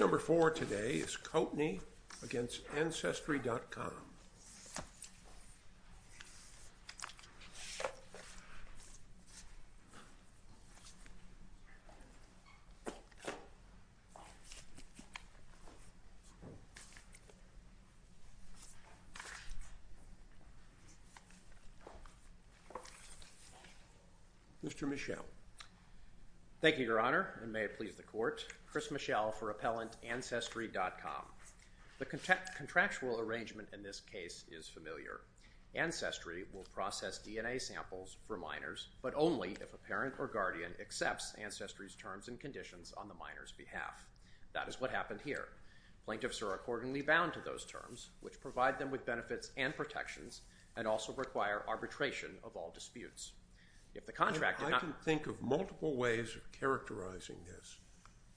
Number four today is Coatney v. Ancestry.com Thank you, Your Honor, and may it please the Court. Chris Michel for Appellant Ancestry.com The contractual arrangement in this case is familiar. Ancestry will process DNA samples for minors, but only if a parent or guardian accepts Ancestry's terms and conditions on the minor's behalf. That is what happened here. Plaintiffs are accordingly bound to those terms, which provide them with benefits and protections, and also require arbitration of all disputes. I can think of multiple ways of characterizing this.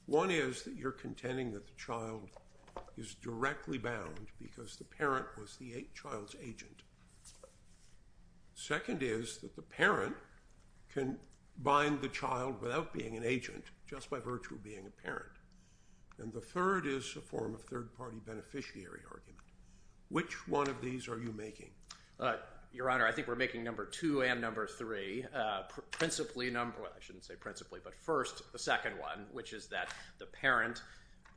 One is that you're contending that the child is directly bound because the parent was the child's agent. Second is that the parent can bind the child without being an agent, just by virtue of being a parent. And the third is a form of third-party beneficiary argument. Which one of these are you making? Your Honor, I think we're making number two and number three. I shouldn't say principally, but first, the second one, which is that the parent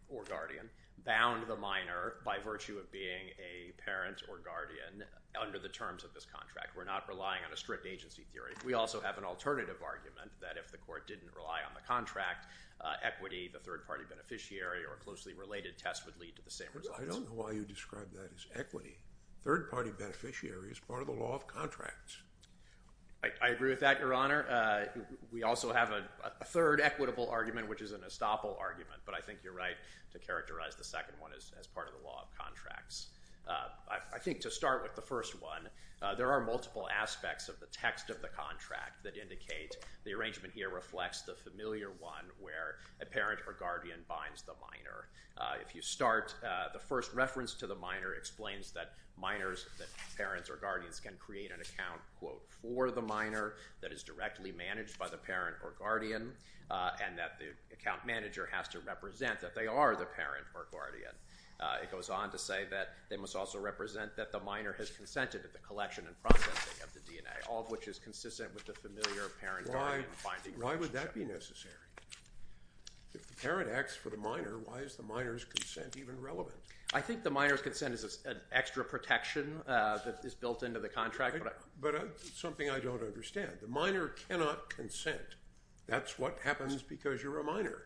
or guardian bound the minor by virtue of being a parent or guardian under the terms of this contract. We're not relying on a strict agency theory. We also have an alternative argument that if the Court didn't rely on the contract, equity, the third-party beneficiary, or closely related tests would lead to the same results. I don't know why you describe that as equity. Third-party beneficiary is part of the law of contracts. I agree with that, Your Honor. We also have a third equitable argument, which is an estoppel argument, but I think you're right to characterize the second one as part of the law of contracts. I think to start with the first one, there are multiple aspects of the text of the contract that indicate the arrangement here reflects the familiar one where a parent or guardian binds the minor. If you start, the first reference to the minor explains that minors, that parents or guardians, can create an account, quote, for the minor that is directly managed by the parent or guardian, and that the account manager has to represent that they are the parent or guardian. It goes on to say that they must also represent that the minor has consented to the collection and processing of the DNA, all of which is consistent with the familiar parent-guardian binding relationship. If the parent acts for the minor, why is the minor's consent even relevant? I think the minor's consent is an extra protection that is built into the contract. But it's something I don't understand. The minor cannot consent. That's what happens because you're a minor.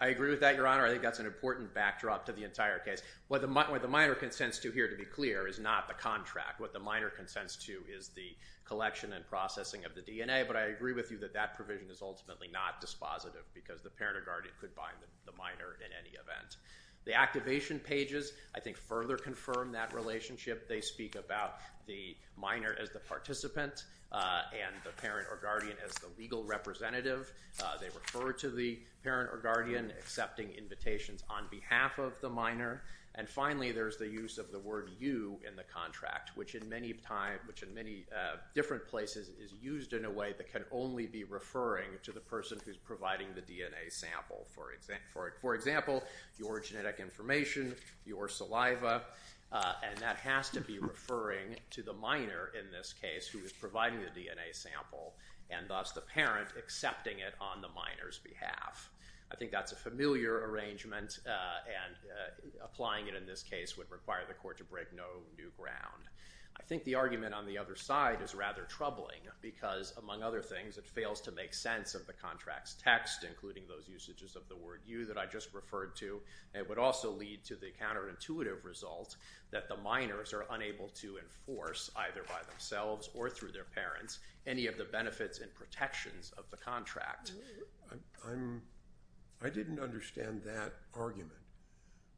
I agree with that, Your Honor. I think that's an important backdrop to the entire case. What the minor consents to here, to be clear, is not the contract. What the minor consents to is the collection and processing of the DNA, but I agree with you that that provision is ultimately not dispositive because the parent or guardian could bind the minor in any event. The activation pages, I think, further confirm that relationship. They speak about the minor as the participant and the parent or guardian as the legal representative. They refer to the parent or guardian accepting invitations on behalf of the minor. And finally, there's the use of the word you in the contract, which in many different places is used in a way that can only be referring to the person who's providing the DNA sample. For example, your genetic information, your saliva, and that has to be referring to the minor in this case who is providing the DNA sample and thus the parent accepting it on the minor's behalf. I think that's a familiar arrangement and applying it in this case would require the court to break no new ground. I think the argument on the other side is rather troubling because, among other things, it fails to make sense of the contract's text, including those usages of the word you that I just referred to. It would also lead to the counterintuitive result that the minors are unable to enforce, either by themselves or through their parents, any of the benefits and protections of the contract. I didn't understand that argument.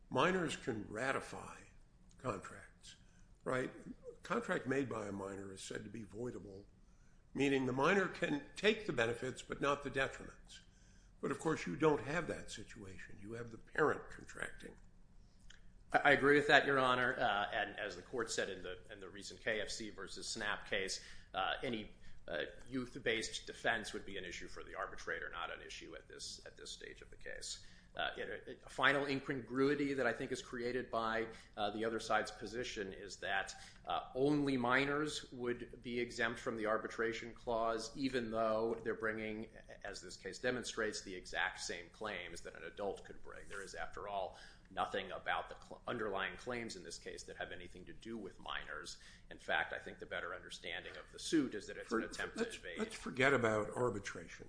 Minors can ratify contracts, right? A contract made by a minor is said to be voidable, meaning the minor can take the benefits but not the detriments. But, of course, you don't have that situation. You have the parent contracting. I agree with that, Your Honor, and as the court said in the recent KFC versus SNAP case, any youth-based defense would be an issue for the arbitrator, not an issue at this stage of the case. A final incongruity that I think is created by the other side's position is that only minors would be exempt from the arbitration clause even though they're bringing, as this case demonstrates, the exact same claims that an adult could bring. There is, after all, nothing about the underlying claims in this case that have anything to do with minors. In fact, I think the better understanding of the suit is that it's an attempt to… Let's forget about arbitration.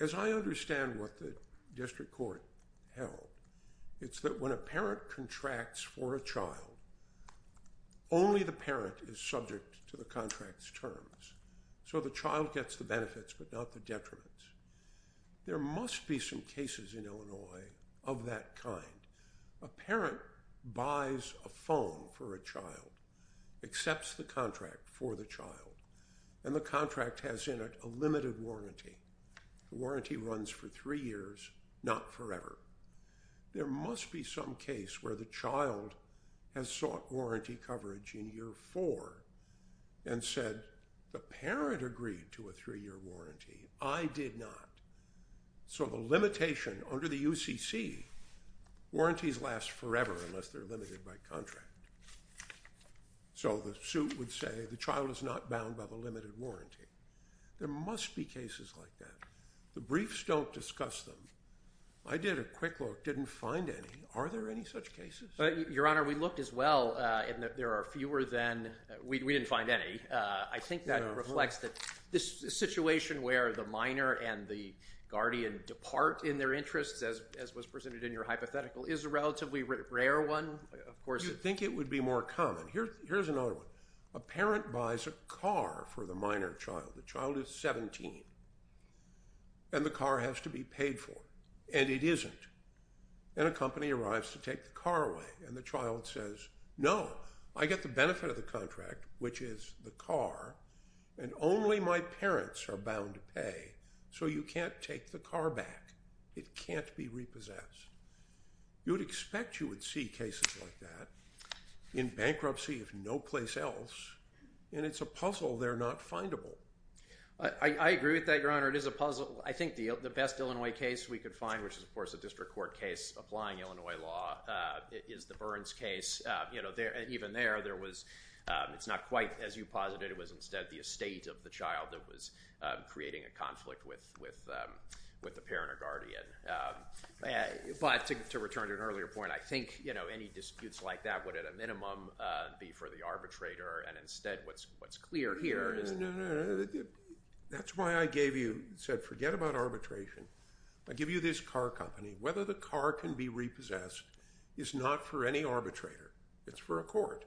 As I understand what the district court held, it's that when a parent contracts for a child, only the parent is subject to the contract's terms. So the child gets the benefits but not the detriments. There must be some cases in Illinois of that kind. A parent buys a phone for a child, accepts the contract for the child, and the contract has in it a limited warranty. The warranty runs for three years, not forever. There must be some case where the child has sought warranty coverage in year four and said the parent agreed to a three-year warranty. I did not. So the limitation under the UCC, warranties last forever unless they're limited by contract. So the suit would say the child is not bound by the limited warranty. There must be cases like that. The briefs don't discuss them. I did a quick look, didn't find any. Are there any such cases? Your Honor, we looked as well, and there are fewer than… We didn't find any. I think that reflects that this situation where the minor and the guardian depart in their interests, as was presented in your hypothetical, is a relatively rare one. Do you think it would be more common? Here's another one. A parent buys a car for the minor child. The child is 17, and the car has to be paid for, and it isn't, and a company arrives to take the car away, and the child says, no, I get the benefit of the contract, which is the car, and only my parents are bound to pay, so you can't take the car back. It can't be repossessed. You would expect you would see cases like that in bankruptcy if no place else, and it's a puzzle there not findable. I agree with that, Your Honor. It is a puzzle. I think the best Illinois case we could find, which is, of course, a district court case applying Illinois law, is the Burns case. Even there, it's not quite as you posited. It was instead the estate of the child that was creating a conflict with the parent or guardian. But to return to an earlier point, I think any disputes like that would, at a minimum, be for the arbitrator, and instead what's clear here is – No, no, no. That's why I gave you – said forget about arbitration. I give you this car company. Whether the car can be repossessed is not for any arbitrator. It's for a court,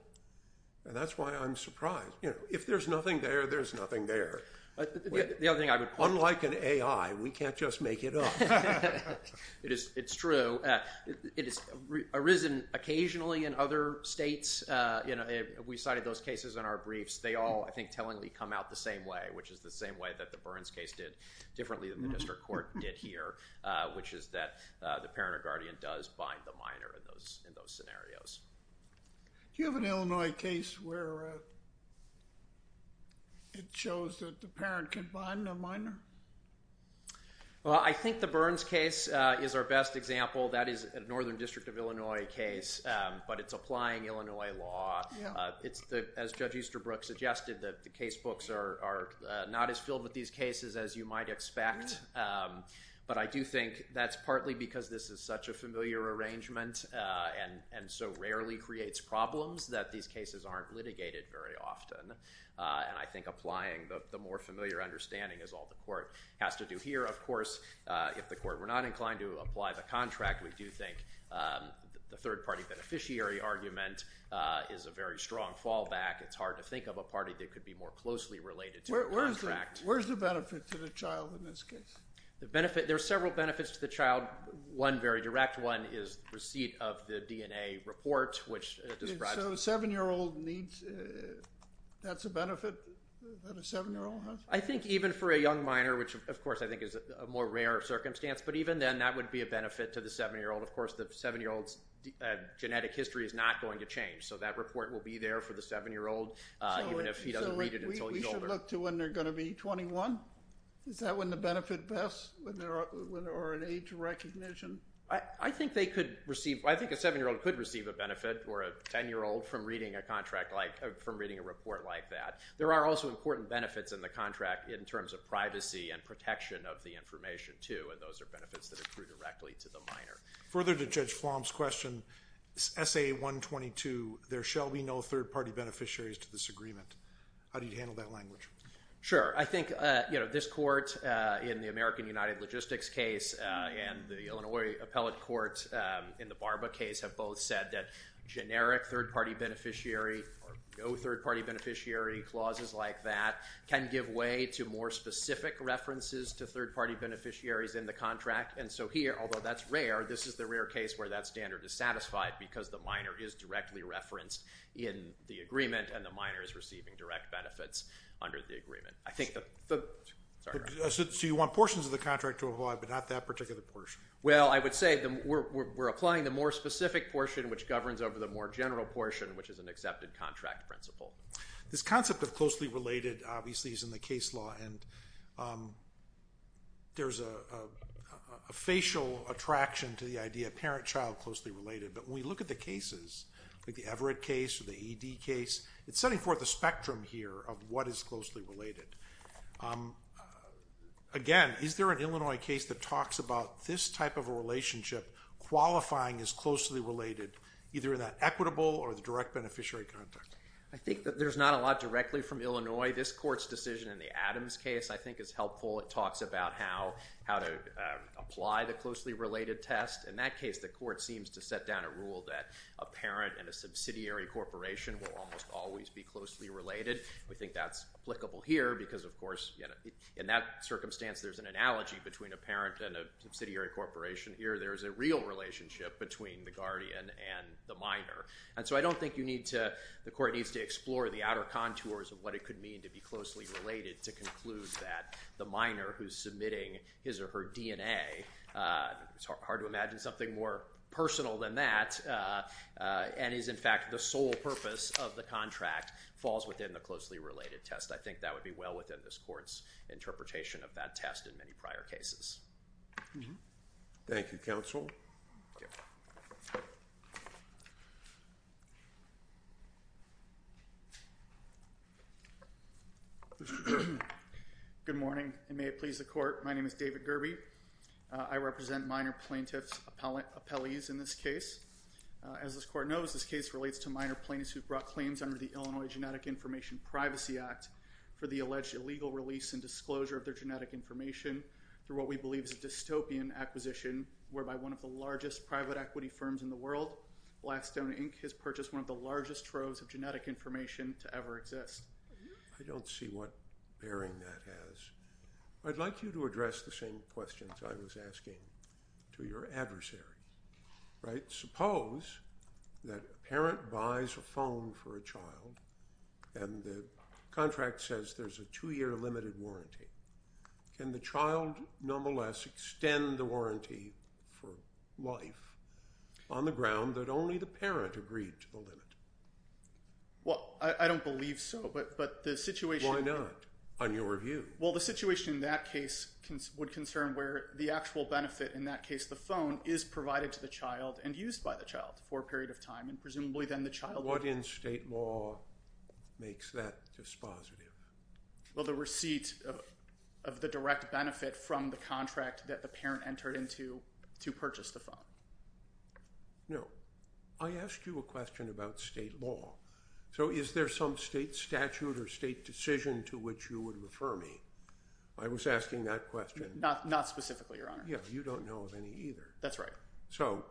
and that's why I'm surprised. If there's nothing there, there's nothing there. The other thing I would – Unlike an AI, we can't just make it up. It's true. It has arisen occasionally in other states. We cited those cases in our briefs. They all, I think, tellingly come out the same way, which is the same way that the Burns case did differently than the district court did here, which is that the parent or guardian does bind the minor in those scenarios. Do you have an Illinois case where it shows that the parent can bind the minor? Well, I think the Burns case is our best example. That is a northern district of Illinois case, but it's applying Illinois law. As Judge Easterbrook suggested, the case books are not as filled with these cases as you might expect, but I do think that's partly because this is such a familiar arrangement and so rarely creates problems that these cases aren't litigated very often, and I think applying the more familiar understanding is all the court has to do here. Of course, if the court were not inclined to apply the contract, we do think the third-party beneficiary argument is a very strong fallback. It's hard to think of a party that could be more closely related to the contract. Where's the benefit to the child in this case? There are several benefits to the child. One very direct one is receipt of the DNA report, which describes – So a 7-year-old needs – that's a benefit that a 7-year-old has? I think even for a young minor, which of course I think is a more rare circumstance, but even then that would be a benefit to the 7-year-old. Of course, the 7-year-old's genetic history is not going to change, so that report will be there for the 7-year-old even if he doesn't read it until he's older. So we should look to when they're going to be 21? Is that when the benefit best or an age recognition? I think they could receive – I think a 7-year-old could receive a benefit or a 10-year-old from reading a contract like – from reading a report like that. There are also important benefits in the contract in terms of privacy and protection of the information too, and those are benefits that accrue directly to the minor. Further to Judge Flom's question, SA-122, there shall be no third-party beneficiaries to this agreement. How do you handle that language? Sure. I think this court in the American United Logistics case and the Illinois Appellate Court in the Barba case have both said that generic third-party beneficiary or no third-party beneficiary clauses like that can give way to more specific references to third-party beneficiaries in the contract. And so here, although that's rare, this is the rare case where that standard is satisfied because the minor is directly referenced in the agreement and the minor is receiving direct benefits under the agreement. So you want portions of the contract to apply but not that particular portion? Well, I would say we're applying the more specific portion, which governs over the more general portion, which is an accepted contract principle. This concept of closely related obviously is in the case law, and there's a facial attraction to the idea of parent-child closely related. But when we look at the cases, like the Everett case or the E.D. case, it's setting forth a spectrum here of what is closely related. Again, is there an Illinois case that talks about this type of a relationship, qualifying as closely related, either in that equitable or the direct beneficiary context? I think that there's not a lot directly from Illinois. This court's decision in the Adams case I think is helpful. It talks about how to apply the closely related test. In that case, the court seems to set down a rule that a parent and a subsidiary corporation will almost always be closely related. We think that's applicable here because, of course, in that circumstance, there's an analogy between a parent and a subsidiary corporation. Here there's a real relationship between the guardian and the minor. And so I don't think the court needs to explore the outer contours of what it could mean to be closely related to conclude that the minor who's submitting his or her DNA, it's hard to imagine something more personal than that, and is in fact the sole purpose of the contract, falls within the closely related test. I think that would be well within this court's interpretation of that test in many prior cases. Thank you, counsel. My name is David Gerbe. I represent minor plaintiffs' appellees in this case. As this court knows, this case relates to minor plaintiffs who brought claims under the Illinois Genetic Information Privacy Act for the alleged illegal release and disclosure of their genetic information through what we believe is a dystopian acquisition, whereby one of the largest private equity firms in the world, Blackstone Inc., has purchased one of the largest troves of genetic information to ever exist. I don't see what bearing that has. I'd like you to address the same questions I was asking to your adversary. Suppose that a parent buys a phone for a child, and the contract says there's a two-year limited warranty. Can the child, nonetheless, extend the warranty for life on the ground that only the parent agreed to the limit? Well, I don't believe so, but the situation… Why not, on your view? Well, the situation in that case would concern where the actual benefit in that case, the phone, is provided to the child and used by the child for a period of time, and presumably then the child… What in state law makes that dispositive? Well, the receipt of the direct benefit from the contract that the parent entered into to purchase the phone. No. I asked you a question about state law. So is there some state statute or state decision to which you would refer me? I was asking that question. Not specifically, Your Honor. Yeah, you don't know of any either. That's right. So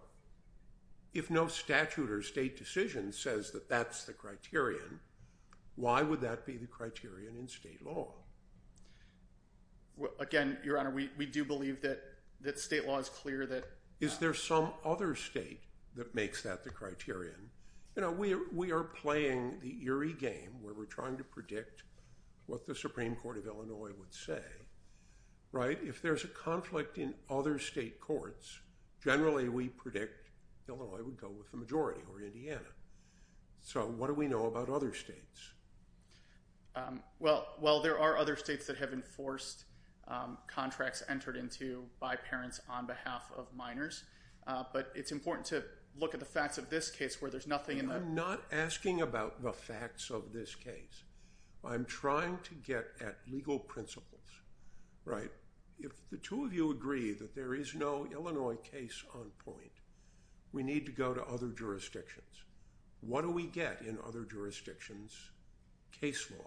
if no statute or state decision says that that's the criterion, why would that be the criterion in state law? Again, Your Honor, we do believe that state law is clear that… Is there some other state that makes that the criterion? You know, we are playing the eerie game where we're trying to predict what the Supreme Court of Illinois would say, right? If there's a conflict in other state courts, generally we predict Illinois would go with the majority or Indiana. So what do we know about other states? Well, there are other states that have enforced contracts entered into by parents on behalf of minors, but it's important to look at the facts of this case where there's nothing in the… I'm not asking about the facts of this case. I'm trying to get at legal principles, right? If the two of you agree that there is no Illinois case on point, we need to go to other jurisdictions. What do we get in other jurisdictions, case law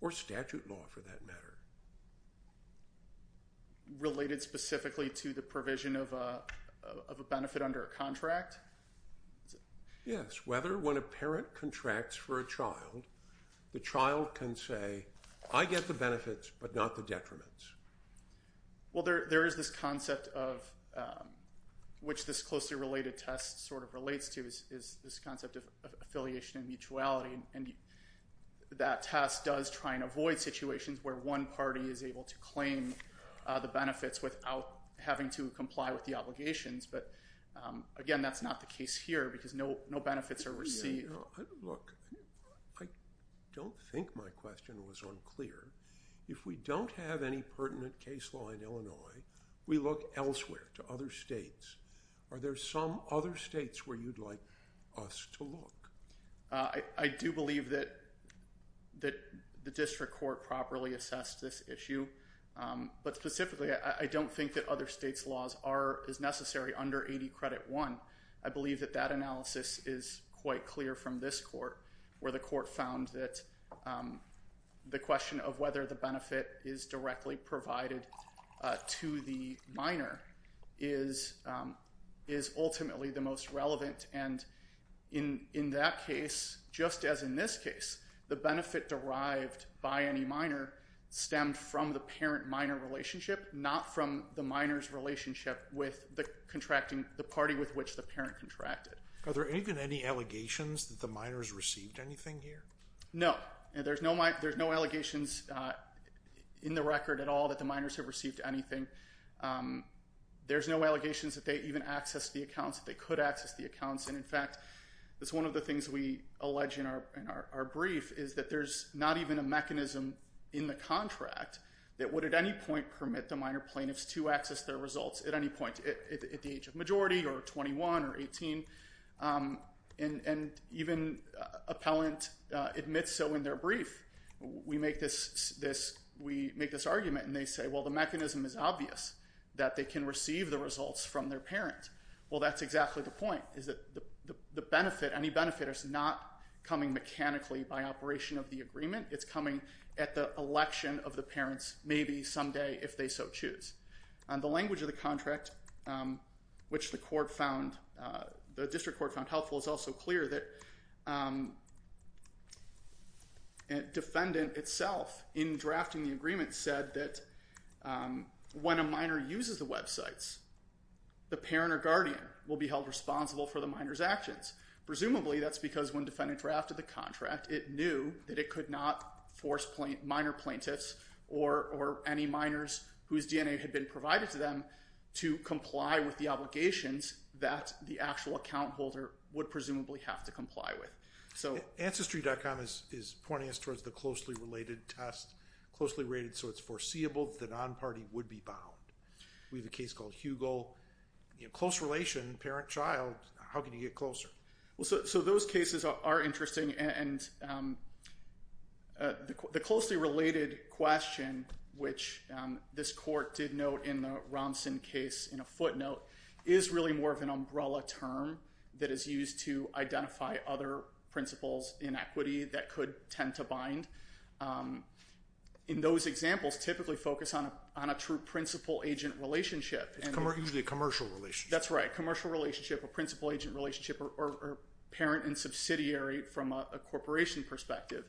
or statute law for that matter? Related specifically to the provision of a benefit under a contract? Yes, whether when a parent contracts for a child, the child can say, I get the benefits but not the detriments. Well, there is this concept of which this closely related test sort of relates to is this concept of affiliation and mutuality, and that test does try and avoid situations where one party is able to claim the benefits without having to comply with the obligations, but again, that's not the case here because no benefits are received. Look, I don't think my question was unclear. If we don't have any pertinent case law in Illinois, we look elsewhere to other states. Are there some other states where you'd like us to look? I do believe that the district court properly assessed this issue, but specifically I don't think that other states' laws are as necessary under 80 Credit I. I believe that that analysis is quite clear from this court, where the court found that the question of whether the benefit is directly provided to the minor is ultimately the most relevant, and in that case, just as in this case, the benefit derived by any minor stemmed from the parent-minor relationship, not from the minor's relationship with the party with which the parent contracted. Are there even any allegations that the minors received anything here? No. There's no allegations in the record at all that the minors have received anything. There's no allegations that they even accessed the accounts, that they could access the accounts, and in fact, it's one of the things we allege in our brief is that there's not even a mechanism in the contract that would at any point permit the minor plaintiffs to access their results at any point, at the age of majority or 21 or 18, and even appellant admits so in their brief. We make this argument, and they say, well, the mechanism is obvious, that they can receive the results from their parents. Well, that's exactly the point, is that any benefit is not coming mechanically by operation of the agreement. It's coming at the election of the parents, maybe someday if they so choose. The language of the contract, which the court found, the district court found helpful, is also clear that defendant itself in drafting the agreement said that when a minor uses the websites, the parent or guardian will be held responsible for the minor's actions. Presumably, that's because when defendant drafted the contract, it knew that it could not force minor plaintiffs or any minors whose DNA had been provided to them to comply with the obligations that the actual account holder would presumably have to comply with. Ancestry.com is pointing us towards the closely related test, closely rated so it's foreseeable that the non-party would be bound. We have a case called Hugo. Close relation, parent-child, how can you get closer? Those cases are interesting. The closely related question, which this court did note in the Romson case in a footnote, is really more of an umbrella term that is used to identify other principles in equity that could tend to bind. In those examples, typically focus on a true principal-agent relationship. It's usually a commercial relationship. That's right, commercial relationship or principal-agent relationship or parent and subsidiary from a corporation perspective.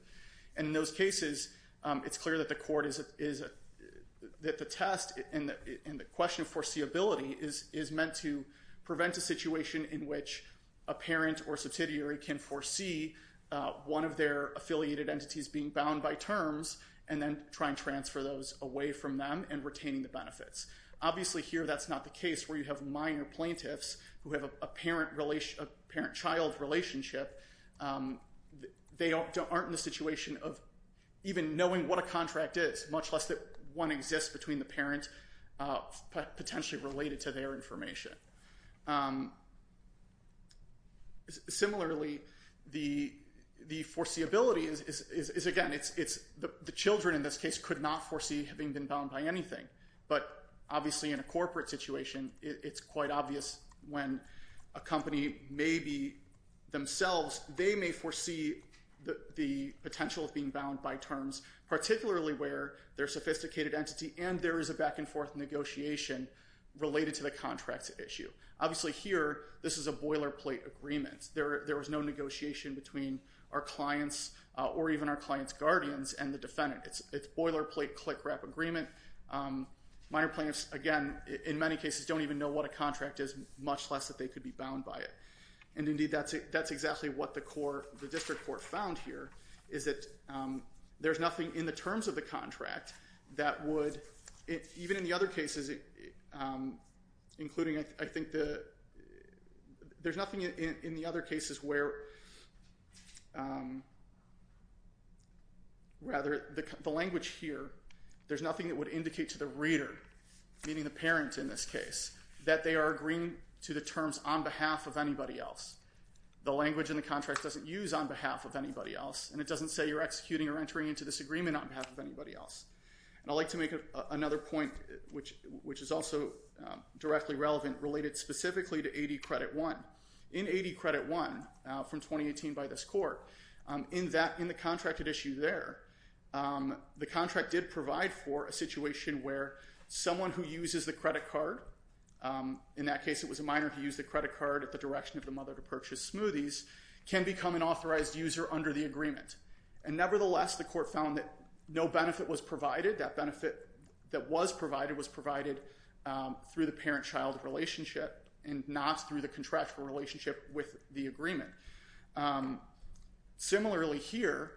In those cases, it's clear that the test and the question of foreseeability is meant to prevent a situation in which a parent or subsidiary can foresee one of their affiliated entities being bound by terms and then try and transfer those away from them and retaining the benefits. Obviously, here that's not the case where you have minor plaintiffs who have a parent-child relationship. They aren't in the situation of even knowing what a contract is, much less that one exists between the parent potentially related to their information. Similarly, the foreseeability is, again, the children in this case could not foresee having been bound by anything. But obviously in a corporate situation, it's quite obvious when a company may be themselves, they may foresee the potential of being bound by terms, particularly where they're a sophisticated entity and there is a back-and-forth negotiation related to the contract issue. Obviously here, this is a boilerplate agreement. There is no negotiation between our clients or even our client's guardians and the defendant. It's boilerplate, click-wrap agreement. Minor plaintiffs, again, in many cases don't even know what a contract is, much less that they could be bound by it. And indeed, that's exactly what the district court found here, is that there's nothing in the terms of the contract that would, even in the other cases, including I think the, there's nothing in the other cases where, rather, the language here, there's nothing that would indicate to the reader, meaning the parent in this case, that they are agreeing to the terms on behalf of anybody else. The language in the contract doesn't use on behalf of anybody else and it doesn't say you're executing or entering into this agreement on behalf of anybody else. And I'd like to make another point, which is also directly relevant, related specifically to 80 Credit I. In 80 Credit I, from 2018 by this court, in the contracted issue there, the contract did provide for a situation where someone who uses the credit card, in that case it was a minor who used the credit card at the direction of the mother to purchase smoothies, can become an authorized user under the agreement. And nevertheless, the court found that no benefit was provided. That benefit that was provided was provided through the parent-child relationship and not through the contractual relationship with the agreement. Similarly here,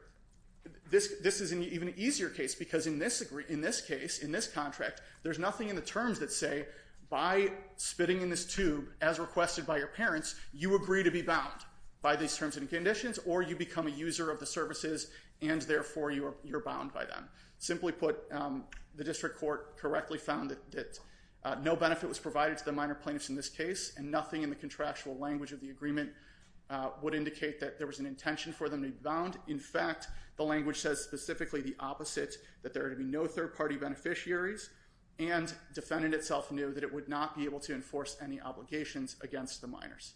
this is an even easier case because in this case, in this contract, there's nothing in the terms that say by spitting in this tube, as requested by your parents, you agree to be bound by these terms and conditions or you become a user of the services and therefore you're bound by them. Simply put, the district court correctly found that no benefit was provided to the minor plaintiffs in this case and nothing in the contractual language of the agreement would indicate that there was an intention for them to be bound. In fact, the language says specifically the opposite, that there would be no third-party beneficiaries and defendant itself knew that it would not be able to enforce any obligations against the minors.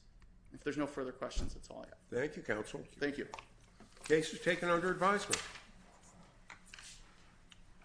If there's no further questions, that's all I have. Thank you, counsel. Thank you. Case is taken under advisement.